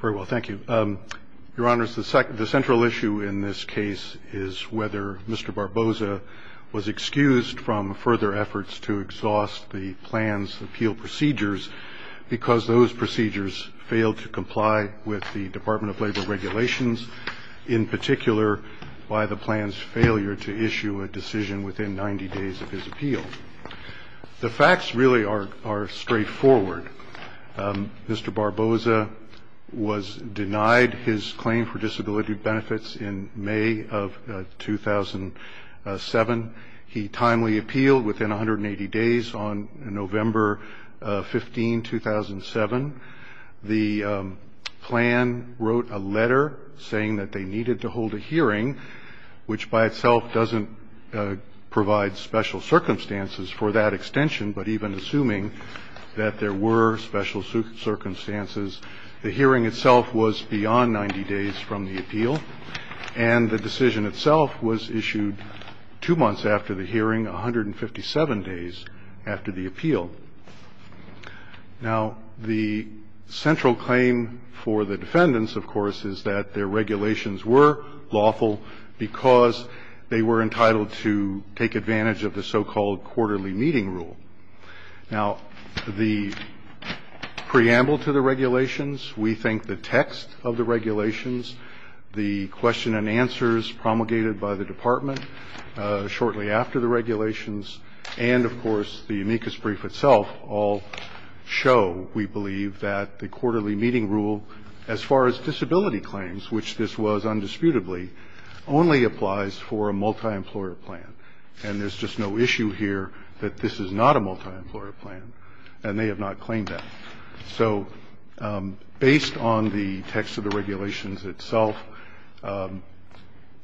Very well, thank you. Your honors, the central issue in this case is whether Mr. Barboza was excused from further efforts to exhaust the plan's appeal procedures because those procedures failed to comply with the Department of Labor regulations, in particular by the plan's failure to issue a decision within 90 days of his appeal. The facts really are straightforward. Mr. Barboza was denied his claim for disability benefits in May of 2007. He timely appealed within 180 days on November 15, 2007. The plan wrote a letter saying that they needed to hold a hearing, which by itself doesn't provide special circumstances for that extension, but even assuming that there were special circumstances, the hearing itself was beyond 90 days from the appeal, and the decision itself was issued two months after the hearing, 157 days after the appeal. Now, the central claim for the defendants, of course, is that their regulations were lawful because they were entitled to take advantage of the so-called quarterly meeting rule. Now, the preamble to the regulations, we think the text of the regulations, the question and answers promulgated by the department shortly after the regulations, and, of course, the amicus brief itself all show, we believe, that the quarterly meeting rule, as far as disability claims, which this was undisputably, only applies for a multi-employer plan. And there's just no issue here that this is not a multi-employer plan, and they have not claimed that. So, based on the text of the regulations itself,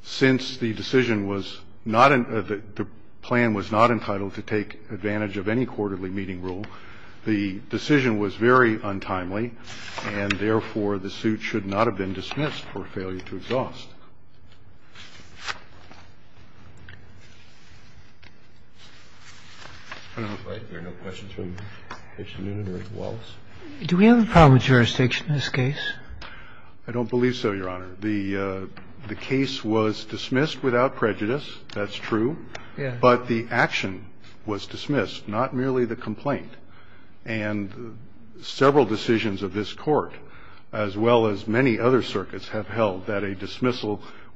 since the decision was not, the plan was not entitled to take advantage of any quarterly meeting rule, the decision was very untimely, and, therefore, the suit should not have been dismissed for failure to exhaust. Do we have a problem with jurisdiction in this case? I don't believe so, Your Honor. The case was dismissed without prejudice, that's true, but the action was dismissed, not merely the complaint, and several decisions of this Court, as well as many other cases, were dismissed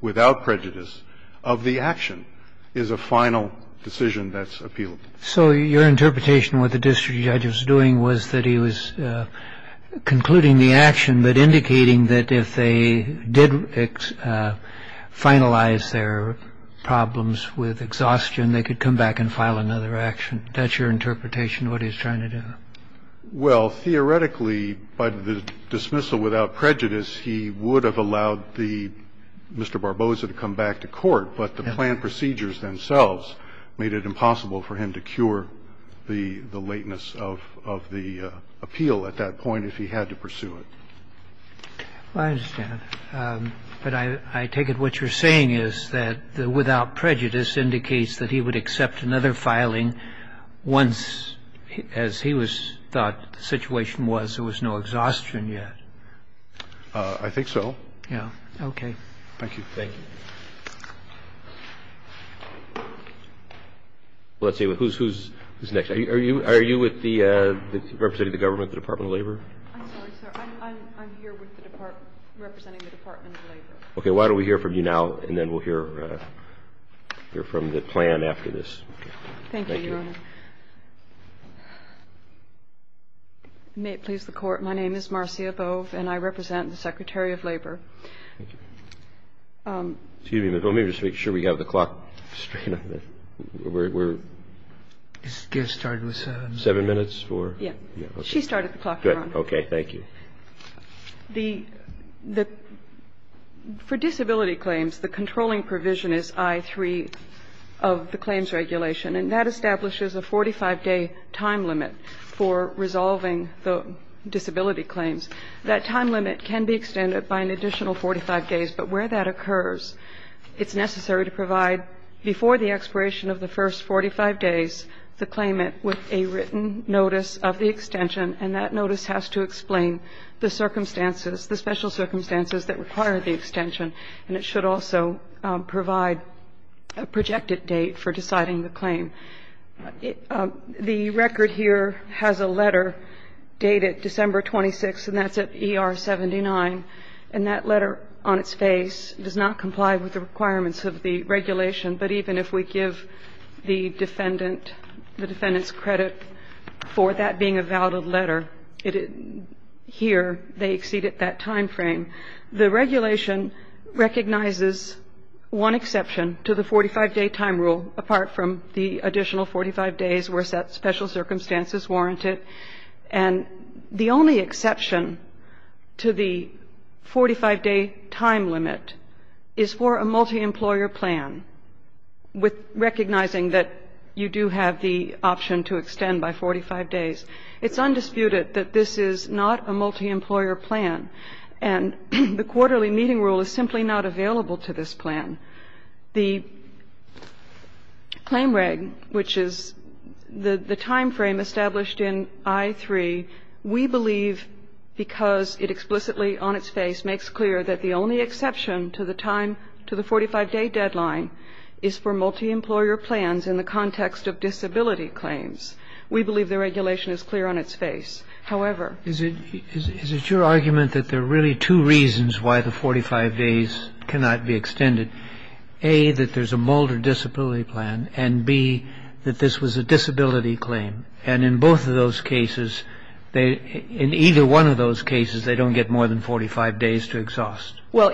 without prejudice, but the action was dismissed without prejudice. So the fact that the case was dismissed without prejudice of the action is a final decision that's appealable. So your interpretation of what the district judge was doing was that he was concluding the action but indicating that if they did finalize their problems with exhaustion, they could come back and file another action. That's your interpretation of what he was trying to do? Well, theoretically, by the dismissal without prejudice, he would have allowed the Mr. Barbosa to come back to court, but the planned procedures themselves made it impossible for him to cure the lateness of the appeal at that point if he had to pursue it. Well, I understand. But I take it what you're saying is that the without prejudice indicates that he would accept another filing once, as he thought the situation was, there was no exhaustion yet. I think so. Okay. Thank you. Thank you. Let's see. Who's next? Are you with the representative of the government, the Department of Labor? I'm sorry, sir. I'm here representing the Department of Labor. Okay. Why don't we hear from you now, and then we'll hear from the plan after this. Thank you, Your Honor. May it please the Court. My name is Marcia Bove, and I represent the Secretary of Labor. Excuse me. Let me just make sure we have the clock straight. We're starting with seven minutes? Yeah. She started the clock, Your Honor. Okay. Thank you. For disability claims, the controlling provision is I-3 of the claims regulation, and that establishes a 45-day time limit for resolving the disability claims. That time limit can be extended by an additional 45 days, but where that occurs, it's necessary to provide before the expiration of the first 45 days, the claimant with a the circumstances, the special circumstances that require the extension, and it should also provide a projected date for deciding the claim. The record here has a letter dated December 26, and that's at ER 79, and that letter on its face does not comply with the requirements of the regulation, but even if we exceeded that time frame. The regulation recognizes one exception to the 45-day time rule, apart from the additional 45 days where special circumstances warrant it, and the only exception to the 45-day time limit is for a multi-employer plan, recognizing that you do have the option to extend by 45 days. It's undisputed that this is not a multi-employer plan, and the quarterly meeting rule is simply not available to this plan. The claim reg, which is the time frame established in I-3, we believe because it explicitly on its face makes clear that the only exception to the time, to the 45-day deadline, is for multi-employer plans in the context of disability claims. We believe the regulation is clear on its face. However, Is it your argument that there are really two reasons why the 45 days cannot be extended? A, that there's a Mulder disability plan, and B, that this was a disability claim, and in both of those cases, in either one of those cases, they don't get more than 45 days to exhaust? Well,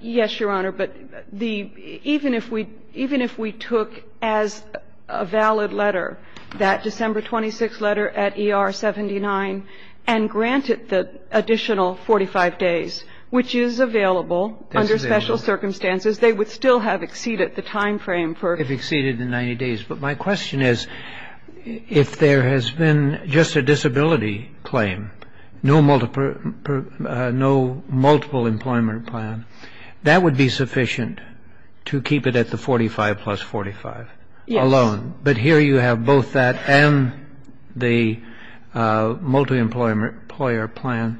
yes, Your Honor. But even if we took as a valid letter that December 26th letter at ER-79 and granted the additional 45 days, which is available under special circumstances, they would still have exceeded the time frame for If exceeded the 90 days. But my question is, if there has been just a disability claim, no multiple employment plan, that would be sufficient to keep it at the 45 plus 45 alone? Yes. But here you have both that and the multi-employer plan.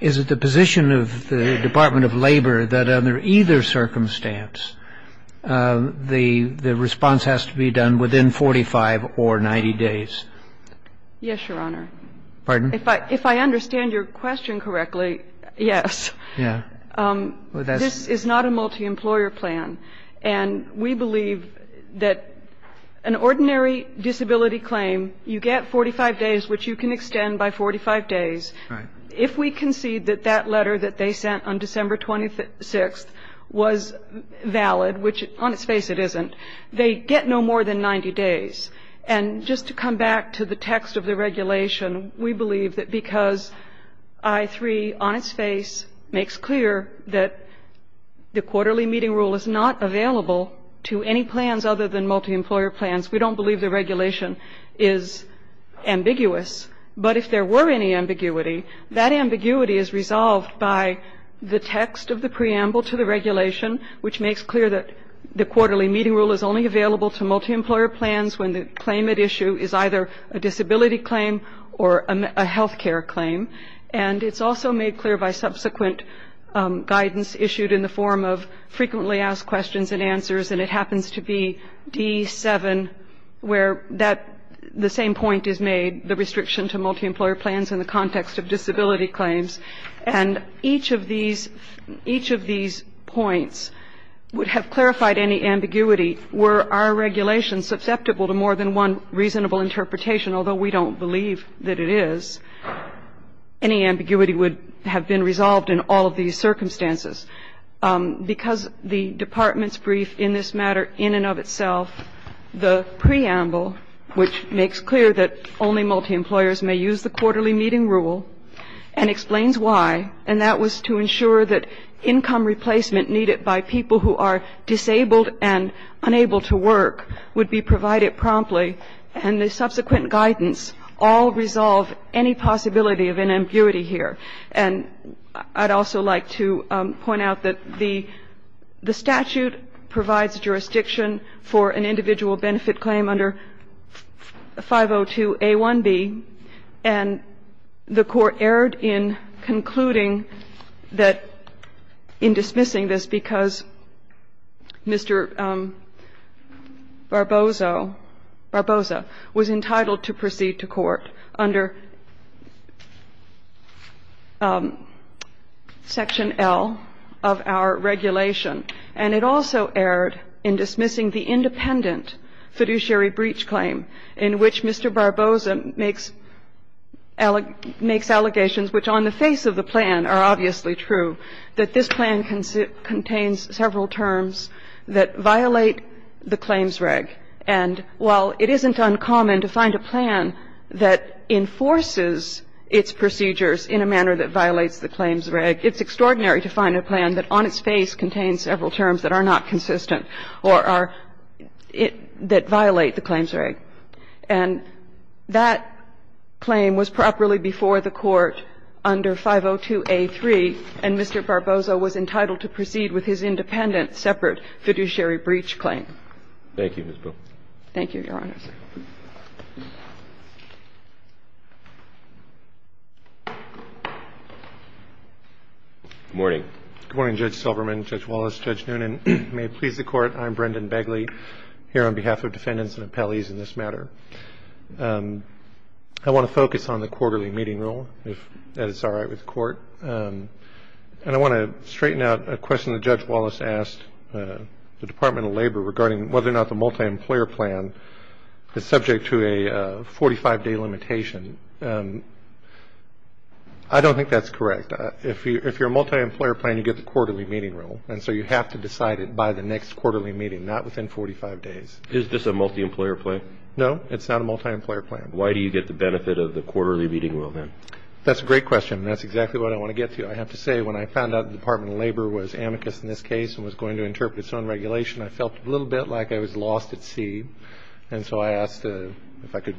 Is it the position of the Department of Labor that under either circumstance, the response has to be done within 45 or 90 days? Yes, Your Honor. Pardon? If I understand your question correctly, yes. Yeah. This is not a multi-employer plan. And we believe that an ordinary disability claim, you get 45 days, which you can extend by 45 days. Right. If we concede that that letter that they sent on December 26th was valid, which on its face it isn't, they get no more than 90 days. And just to come back to the text of the regulation, we believe that because I3 on its face makes clear that the quarterly meeting rule is not available to any plans other than multi-employer plans. We don't believe the regulation is ambiguous. But if there were any ambiguity, that ambiguity is resolved by the text of the preamble to the regulation, which makes clear that the quarterly meeting rule is only available to multi-employer plans when the claim at issue is either a disability or a health care claim. And it's also made clear by subsequent guidance issued in the form of frequently asked questions and answers. And it happens to be D7, where the same point is made, the restriction to multi-employer plans in the context of disability claims. And each of these points would have clarified any ambiguity. Were our regulations susceptible to more than one reasonable interpretation, although we don't believe that it is, any ambiguity would have been resolved in all of these circumstances. Because the department's brief in this matter in and of itself, the preamble, which makes clear that only multi-employers may use the quarterly meeting rule and explains why, and that was to ensure that income replacement needed by people who are disabled and unable to work would be provided promptly. And the subsequent guidance all resolve any possibility of an ambiguity here. And I'd also like to point out that the statute provides jurisdiction for an individual benefit claim under 502A1B. And the Court erred in concluding that, in dismissing this, because Mr. Barboso was entitled to proceed to court under Section L of our regulation. And it also erred in dismissing the independent fiduciary breach claim in which Mr. Barboso makes allegations, which on the face of the plan are obviously true, that this plan contains several terms that violate the claims reg. And while it isn't uncommon to find a plan that enforces its procedures in a manner that violates the claims reg, it's extraordinary to find a plan that on its face contains several terms that are not consistent or are — that violate the claims reg. And that claim was properly before the Court under 502A3. And Mr. Barboso was entitled to proceed with his independent, separate fiduciary breach claim. Thank you, Ms. Boole. Thank you, Your Honor. Good morning. Good morning, Judge Silverman, Judge Wallace, Judge Noonan. May it please the Court. I'm Brendan Begley, here on behalf of defendants and appellees in this matter. I want to focus on the quarterly meeting rule, if that is all right with the Court. And I want to straighten out a question that Judge Wallace asked the Department of Labor regarding whether or not the multi-employer plan is subject to a 45-day limitation. I don't think that's correct. If you're a multi-employer plan, you get the quarterly meeting rule. And so you have to decide it by the next quarterly meeting, not within 45 days. Is this a multi-employer plan? No, it's not a multi-employer plan. Why do you get the benefit of the quarterly meeting rule, then? That's a great question, and that's exactly what I want to get to. I have to say, when I found out the Department of Labor was amicus in this case and was going to interpret its own regulation, I felt a little bit like I was lost at sea. And so I asked if I could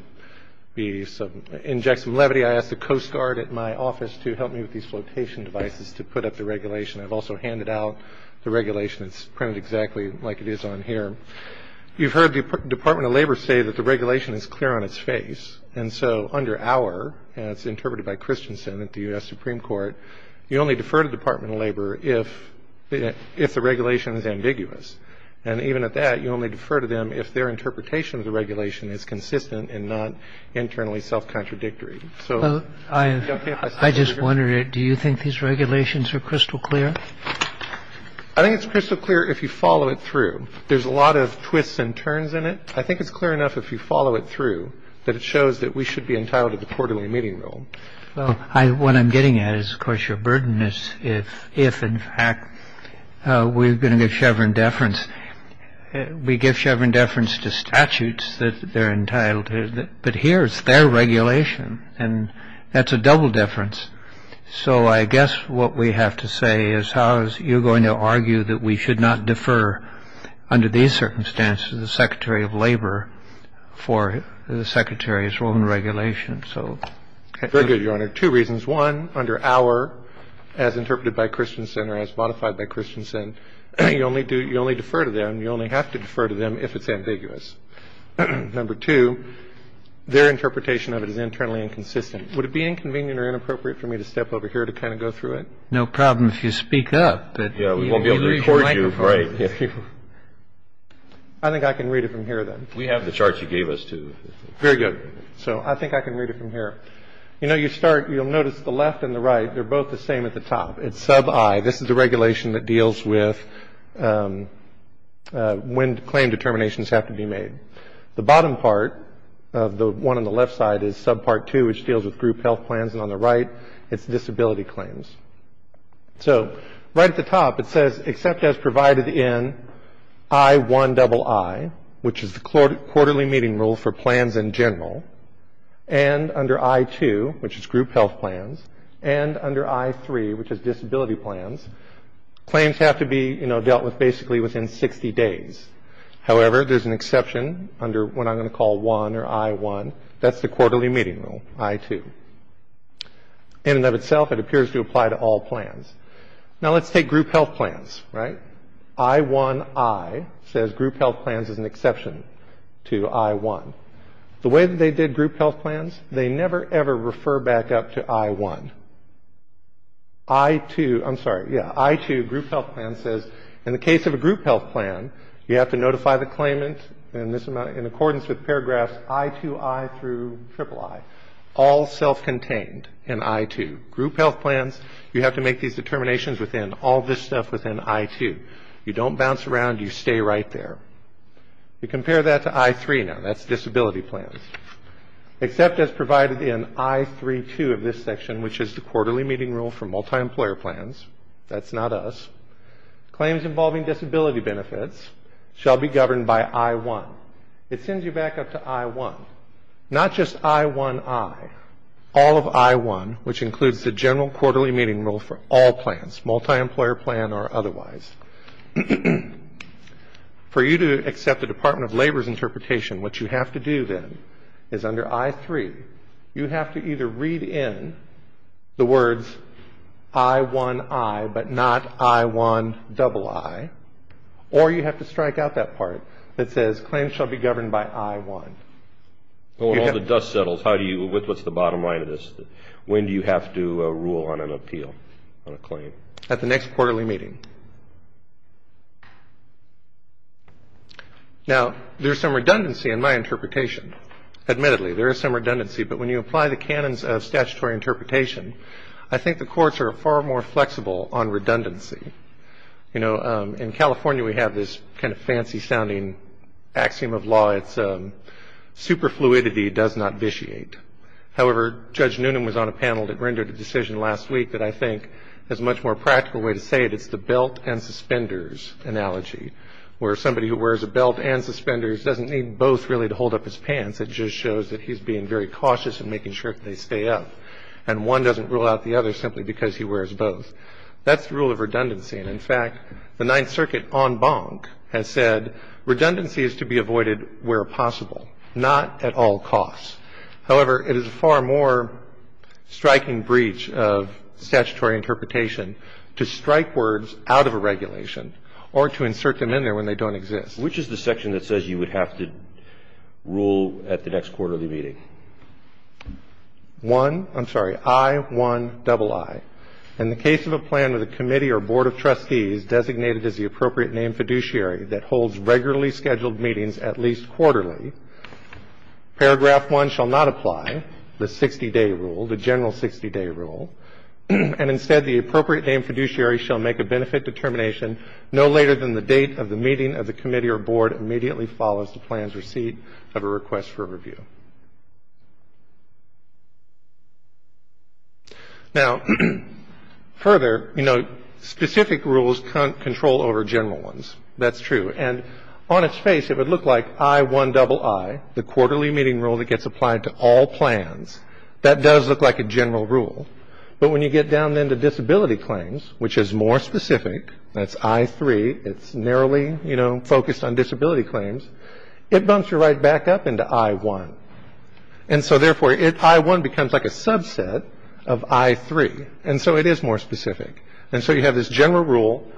be some – inject some levity. I asked the Coast Guard at my office to help me with these flotation devices to put up the regulation. I've also handed out the regulation. It's printed exactly like it is on here. You've heard the Department of Labor say that the regulation is clear on its face. And so under our – and it's interpreted by Christensen at the U.S. Supreme Court – you only defer to the Department of Labor if the regulation is ambiguous. And even at that, you only defer to them if their interpretation of the regulation is consistent and not internally self-contradictory. I just wondered, do you think these regulations are crystal clear? I think it's crystal clear if you follow it through. There's a lot of twists and turns in it. I think it's clear enough if you follow it through that it shows that we should be entitled to the quarterly meeting rule. Well, what I'm getting at is, of course, your burden is if, in fact, we're going to give Chevron deference. We give Chevron deference to statutes that they're entitled to. But here it's their regulation, and that's a double deference. So I guess what we have to say is, Your Honor, I think under our, as interpreted by Christensen or as modified by Christensen, you only do – you only defer to them, you only have to defer to them if it's ambiguous. Number two, their interpretation of it is internally inconsistent. Would it be inconvenient or inappropriate for me to step over here to kind of go through it? We won't be able to record you. I think I can read it from here, then. We have the charts you gave us, too. Very good. So I think I can read it from here. You know, you start – you'll notice the left and the right, they're both the same at the top. It's sub I. This is the regulation that deals with when claim determinations have to be made. The bottom part of the one on the left side is sub part two, which deals with group health plans, and on the right, it's disability claims. So right at the top, it says, except as provided in I1II, which is the quarterly meeting rule for plans in general, and under I2, which is group health plans, and under I3, which is disability plans, claims have to be, you know, dealt with basically within 60 days. However, there's an exception under what I'm going to call I or I1. That's the quarterly meeting rule, I2. In and of itself, it appears to apply to all plans. Now, let's take group health plans, right? I1I says group health plans is an exception to I1. The way that they did group health plans, they never, ever refer back up to I1. I2, I'm sorry, yeah, I2 group health plan says in the case of a group health plan, you have to notify the claimant in accordance with paragraphs I2I through III. All self-contained in I2. Group health plans, you have to make these determinations within all this stuff within I2. You don't bounce around. You stay right there. You compare that to I3 now. That's disability plans. Except as provided in I32 of this section, which is the quarterly meeting rule for multi-employer plans, that's not us, claims involving disability benefits shall be governed by I1. It sends you back up to I1. Not just I1I, all of I1, which includes the general quarterly meeting rule for all plans, multi-employer plan or otherwise. For you to accept the Department of Labor's interpretation, what you have to do then is under I3, you have to either read in the words I1I but not I1II, or you have to strike out that part that says claims shall be governed by I1. When all the dust settles, what's the bottom line of this? When do you have to rule on an appeal, on a claim? At the next quarterly meeting. Now, there's some redundancy in my interpretation. Admittedly, there is some redundancy, but when you apply the canons of statutory interpretation, I think the courts are far more flexible on redundancy. You know, in California, we have this kind of fancy-sounding axiom of law. It's superfluidity does not vitiate. However, Judge Noonan was on a panel that rendered a decision last week that I think is a much more practical way to say it. It's the belt and suspenders analogy, where somebody who wears a belt and suspenders doesn't need both really to hold up his pants. It just shows that he's being very cautious in making sure that they stay up. And one doesn't rule out the other simply because he wears both. That's the rule of redundancy. And, in fact, the Ninth Circuit en banc has said redundancy is to be avoided where possible, not at all costs. However, it is a far more striking breach of statutory interpretation to strike words out of a regulation or to insert them in there when they don't exist. Which is the section that says you would have to rule at the next quarterly meeting? One, I'm sorry, I-1-double-I. In the case of a plan with a committee or board of trustees designated as the appropriate name fiduciary that holds regularly scheduled meetings at least quarterly, paragraph 1 shall not apply, the 60-day rule, the general 60-day rule, and instead the appropriate name fiduciary shall make a benefit determination no later than the date of the meeting of the committee or board immediately follows the plan's receipt of a request for review. Now, further, you know, specific rules can't control over general ones. That's true. And on its face it would look like I-1-double-I, the quarterly meeting rule that gets applied to all plans. That does look like a general rule. But when you get down then to disability claims, which is more specific, that's I-3, it's narrowly, you know, focused on disability claims, it bumps you right back up into I-1. And so, therefore, I-1 becomes like a subset of I-3. And so it is more specific. And so you have this general rule,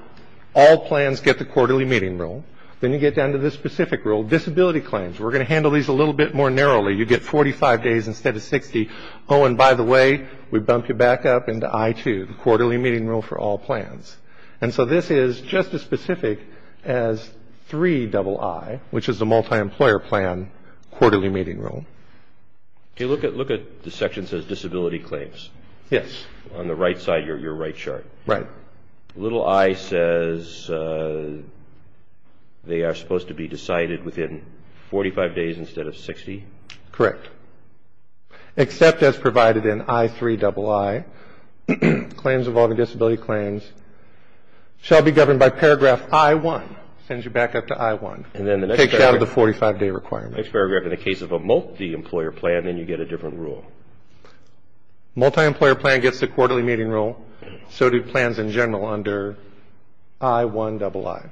all plans get the quarterly meeting rule. Then you get down to this specific rule, disability claims. We're going to handle these a little bit more narrowly. You get 45 days instead of 60. Oh, and by the way, we bump you back up into I-2, the quarterly meeting rule for all plans. And so this is just as specific as 3-double-I, which is the multi-employer plan quarterly meeting rule. Okay. Look at the section that says disability claims. Yes. On the right side, your right chart. Right. Little I says they are supposed to be decided within 45 days instead of 60. Correct. Except as provided in I-3-double-I, claims involving disability claims shall be governed by paragraph I-1. Sends you back up to I-1. And then the next paragraph. Takes you out of the 45-day requirement. Next paragraph, in the case of a multi-employer plan, then you get a different rule. Multi-employer plan gets the quarterly meeting rule. So do plans in general under I-1-double-I.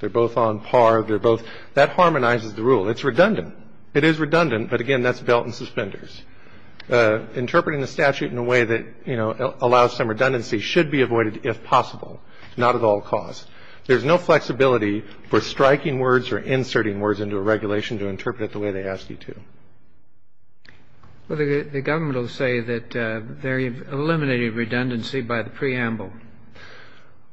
They're both on par. That harmonizes the rule. It's redundant. It is redundant. But, again, that's belt and suspenders. Interpreting the statute in a way that, you know, allows some redundancy should be avoided if possible, not at all cost. There's no flexibility for striking words or inserting words into a regulation to interpret it the way they ask you to. Well, the government will say that they've eliminated redundancy by the preamble.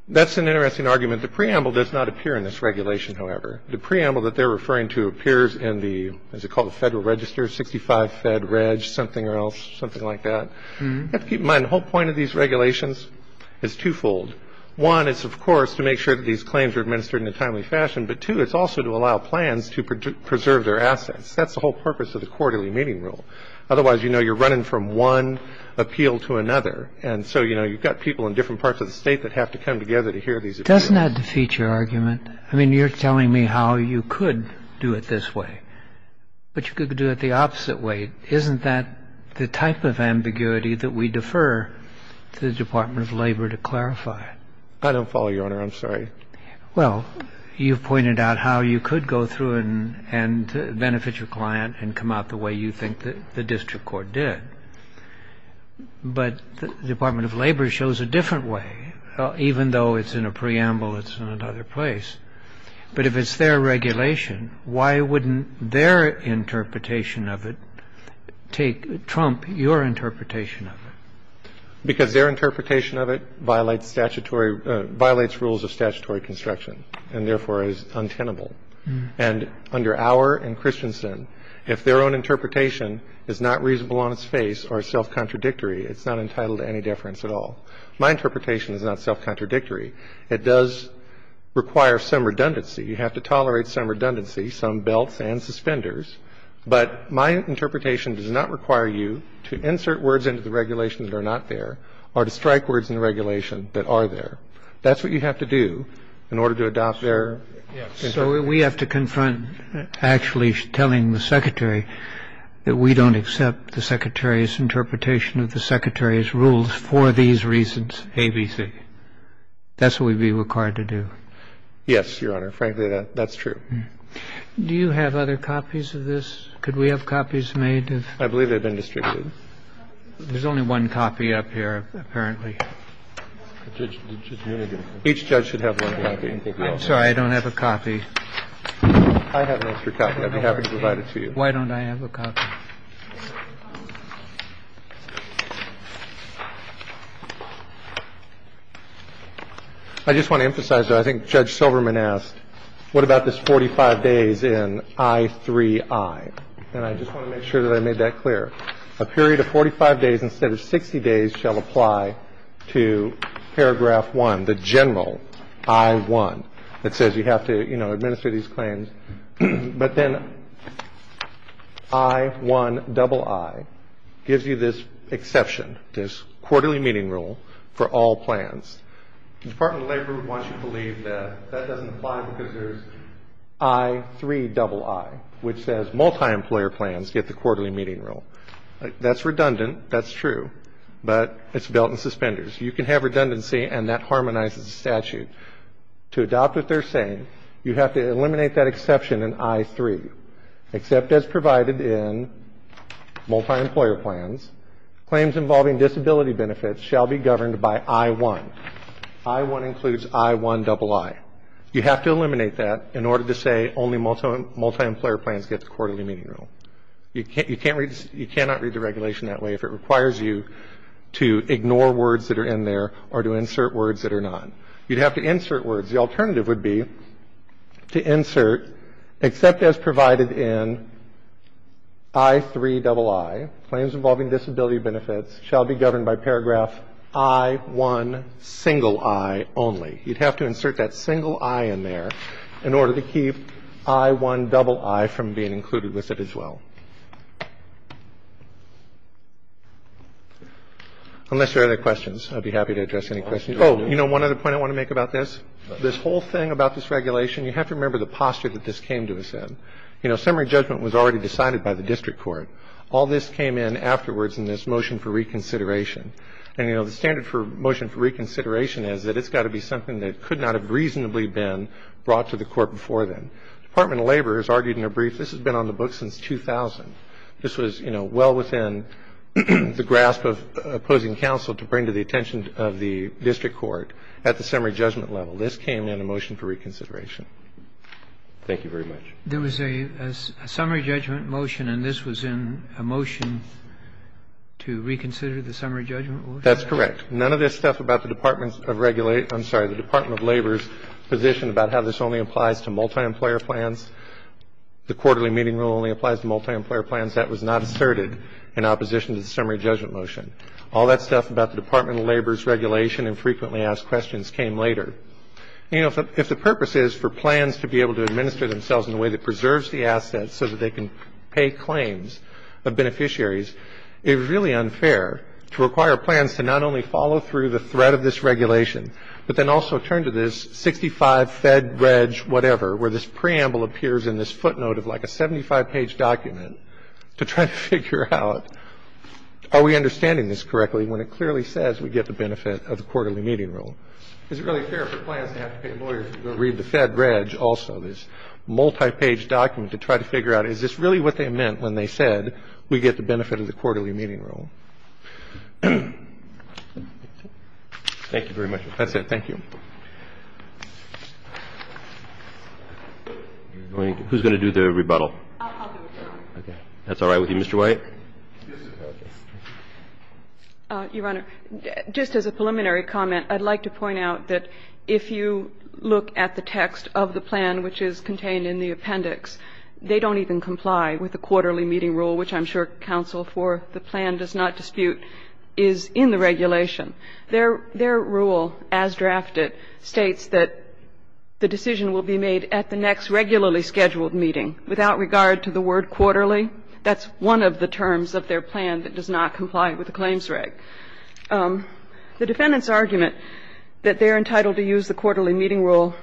That's an interesting argument. The preamble does not appear in this regulation, however. The preamble that they're referring to appears in the, what's it called, the Federal Register, 65 Fed Reg, something or else, something like that. You have to keep in mind the whole point of these regulations is twofold. One is, of course, to make sure that these claims are administered in a timely fashion. But, two, it's also to allow plans to preserve their assets. That's the whole purpose of the quarterly meeting rule. Otherwise, you know, you're running from one appeal to another. And so, you know, you've got people in different parts of the state that have to come together to hear these appeals. Doesn't that defeat your argument? I mean, you're telling me how you could do it this way. But you could do it the opposite way. Isn't that the type of ambiguity that we defer to the Department of Labor to clarify? I don't follow, Your Honor. I'm sorry. Well, you've pointed out how you could go through and benefit your client and come out the way you think the district court did. But the Department of Labor shows a different way. Even though it's in a preamble, it's in another place. But if it's their regulation, why wouldn't their interpretation of it trump your interpretation of it? Because their interpretation of it violates rules of statutory construction and, therefore, is untenable. And under our and Christensen, if their own interpretation is not reasonable on its face or self-contradictory, it's not entitled to any deference at all. My interpretation is not self-contradictory. It does require some redundancy. You have to tolerate some redundancy, some belts and suspenders. But my interpretation does not require you to insert words into the regulation that are not there or to strike words in the regulation that are there. That's what you have to do in order to adopt their interpretation. We have to confront actually telling the secretary that we don't accept the secretary's interpretation of the secretary's rules for these reasons, A, B, C. That's what we'd be required to do. Yes, Your Honor. Frankly, that's true. Do you have other copies of this? Could we have copies made? I believe they've been distributed. There's only one copy up here, apparently. Each judge should have one copy. I'm sorry. I don't have a copy. I have an extra copy. I'd be happy to provide it to you. Why don't I have a copy? I just want to emphasize that I think Judge Silverman asked, what about this 45 days in I-3-I? And I just want to make sure that I made that clear. A period of 45 days instead of 60 days shall apply to Paragraph 1, the general I-1. It says you have to administer these claims. But then I-1-I-I gives you this exception, this quarterly meeting rule for all plans. The Department of Labor wants you to believe that that doesn't apply because there's I-3-I-I, which says multi-employer plans get the quarterly meeting rule. That's redundant. That's true. But it's belt and suspenders. You can have redundancy, and that harmonizes the statute. To adopt what they're saying, you have to eliminate that exception in I-3. Except as provided in multi-employer plans, claims involving disability benefits shall be governed by I-1. I-1 includes I-1-I-I. You have to eliminate that in order to say only multi-employer plans get the quarterly meeting rule. You cannot read the regulation that way if it requires you to ignore words that are in there or to insert words that are not. You'd have to insert words. The alternative would be to insert, except as provided in I-3-I-I, claims involving disability benefits shall be governed by Paragraph I-1, single I only. You'd have to insert that single I in there in order to keep I-1-I-I from being included with it as well. Unless there are other questions, I'd be happy to address any questions. Oh, you know one other point I want to make about this? This whole thing about this regulation, you have to remember the posture that this came to us in. You know, summary judgment was already decided by the district court. All this came in afterwards in this motion for reconsideration. And, you know, the standard for motion for reconsideration is that it's got to be something that could not have reasonably been brought to the court before then. The Department of Labor has argued in a brief this has been on the books since 2000. This was, you know, well within the grasp of opposing counsel to bring to the attention of the district court at the summary judgment level. This came in a motion for reconsideration. Thank you very much. There was a summary judgment motion, and this was in a motion to reconsider the summary judgment motion? That's correct. None of this stuff about the Department of Labor's position about how this only applies to multi-employer plans, the quarterly meeting rule only applies to multi-employer plans, that was not asserted in opposition to the summary judgment motion. All that stuff about the Department of Labor's regulation and frequently asked questions came later. You know, if the purpose is for plans to be able to administer themselves in a way that preserves the assets so that they can pay claims of beneficiaries, it's really unfair to require plans to not only follow through the threat of this regulation, but then also turn to this 65 Fed, Reg, whatever, where this preamble appears in this footnote of like a 75-page document to try to figure out are we understanding this correctly when it clearly says we get the benefit of the quarterly meeting rule. Is it really fair for plans to have to pay lawyers to go read the Fed, Reg also, this multi-page document to try to figure out is this really what they meant when they said we get the benefit of the quarterly meeting rule? Thank you very much, Professor. Thank you. Who's going to do the rebuttal? I'll do it. Okay. That's all right with you, Mr. White? Your Honor, just as a preliminary comment, I'd like to point out that if you look at the text of the plan which is contained in the appendix, they don't even comply with the quarterly meeting rule, which I'm sure counsel for the plan does not dispute is in the regulation. Their rule as drafted states that the decision will be made at the next regularly scheduled meeting. Without regard to the word quarterly, that's one of the terms of their plan that does not comply with the claims reg. The defendant's argument that they're entitled to use the quarterly meeting rule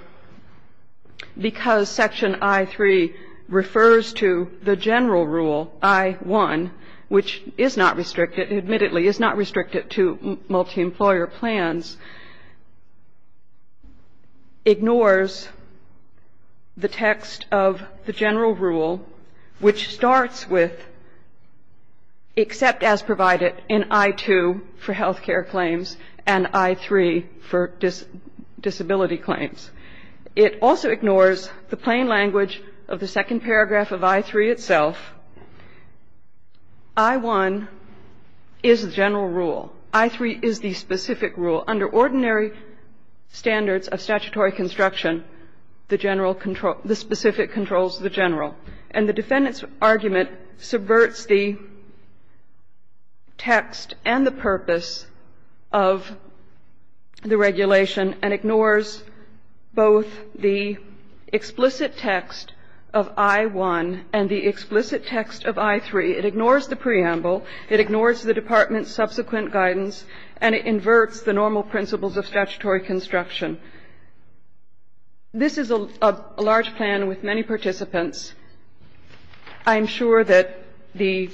because Section I-3 refers to the general rule, I-1, which is not restricted, admittedly is not restricted to multi-employer plans, ignores the text of the general rule, which starts with except as provided in I-2 for health care claims and I-3 for disability claims. It also ignores the plain language of the second paragraph of I-3 itself. I-1 is the general rule. I-3 is the specific rule. Under ordinary standards of statutory construction, the general control the specific controls the general. And the defendant's argument subverts the text and the purpose of the regulation and ignores both the explicit text of I-1 and the explicit text of I-3. It ignores the preamble. It ignores the department's subsequent guidance. And it inverts the normal principles of statutory construction. This is a large plan with many participants. I'm sure that the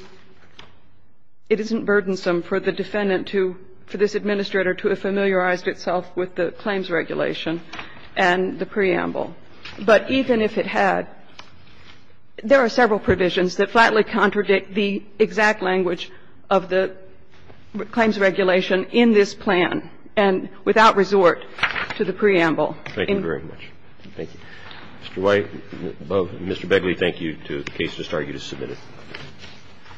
— it isn't burdensome for the defendant to — for this administrator to have familiarized itself with the claims regulation and the preamble. But even if it had, there are several provisions that flatly contradict the exact language of the claims regulation in this plan and without resort to the preamble. Thank you very much. Thank you. Mr. White, Mr. Begley, thank you. The case is started. You just submitted it.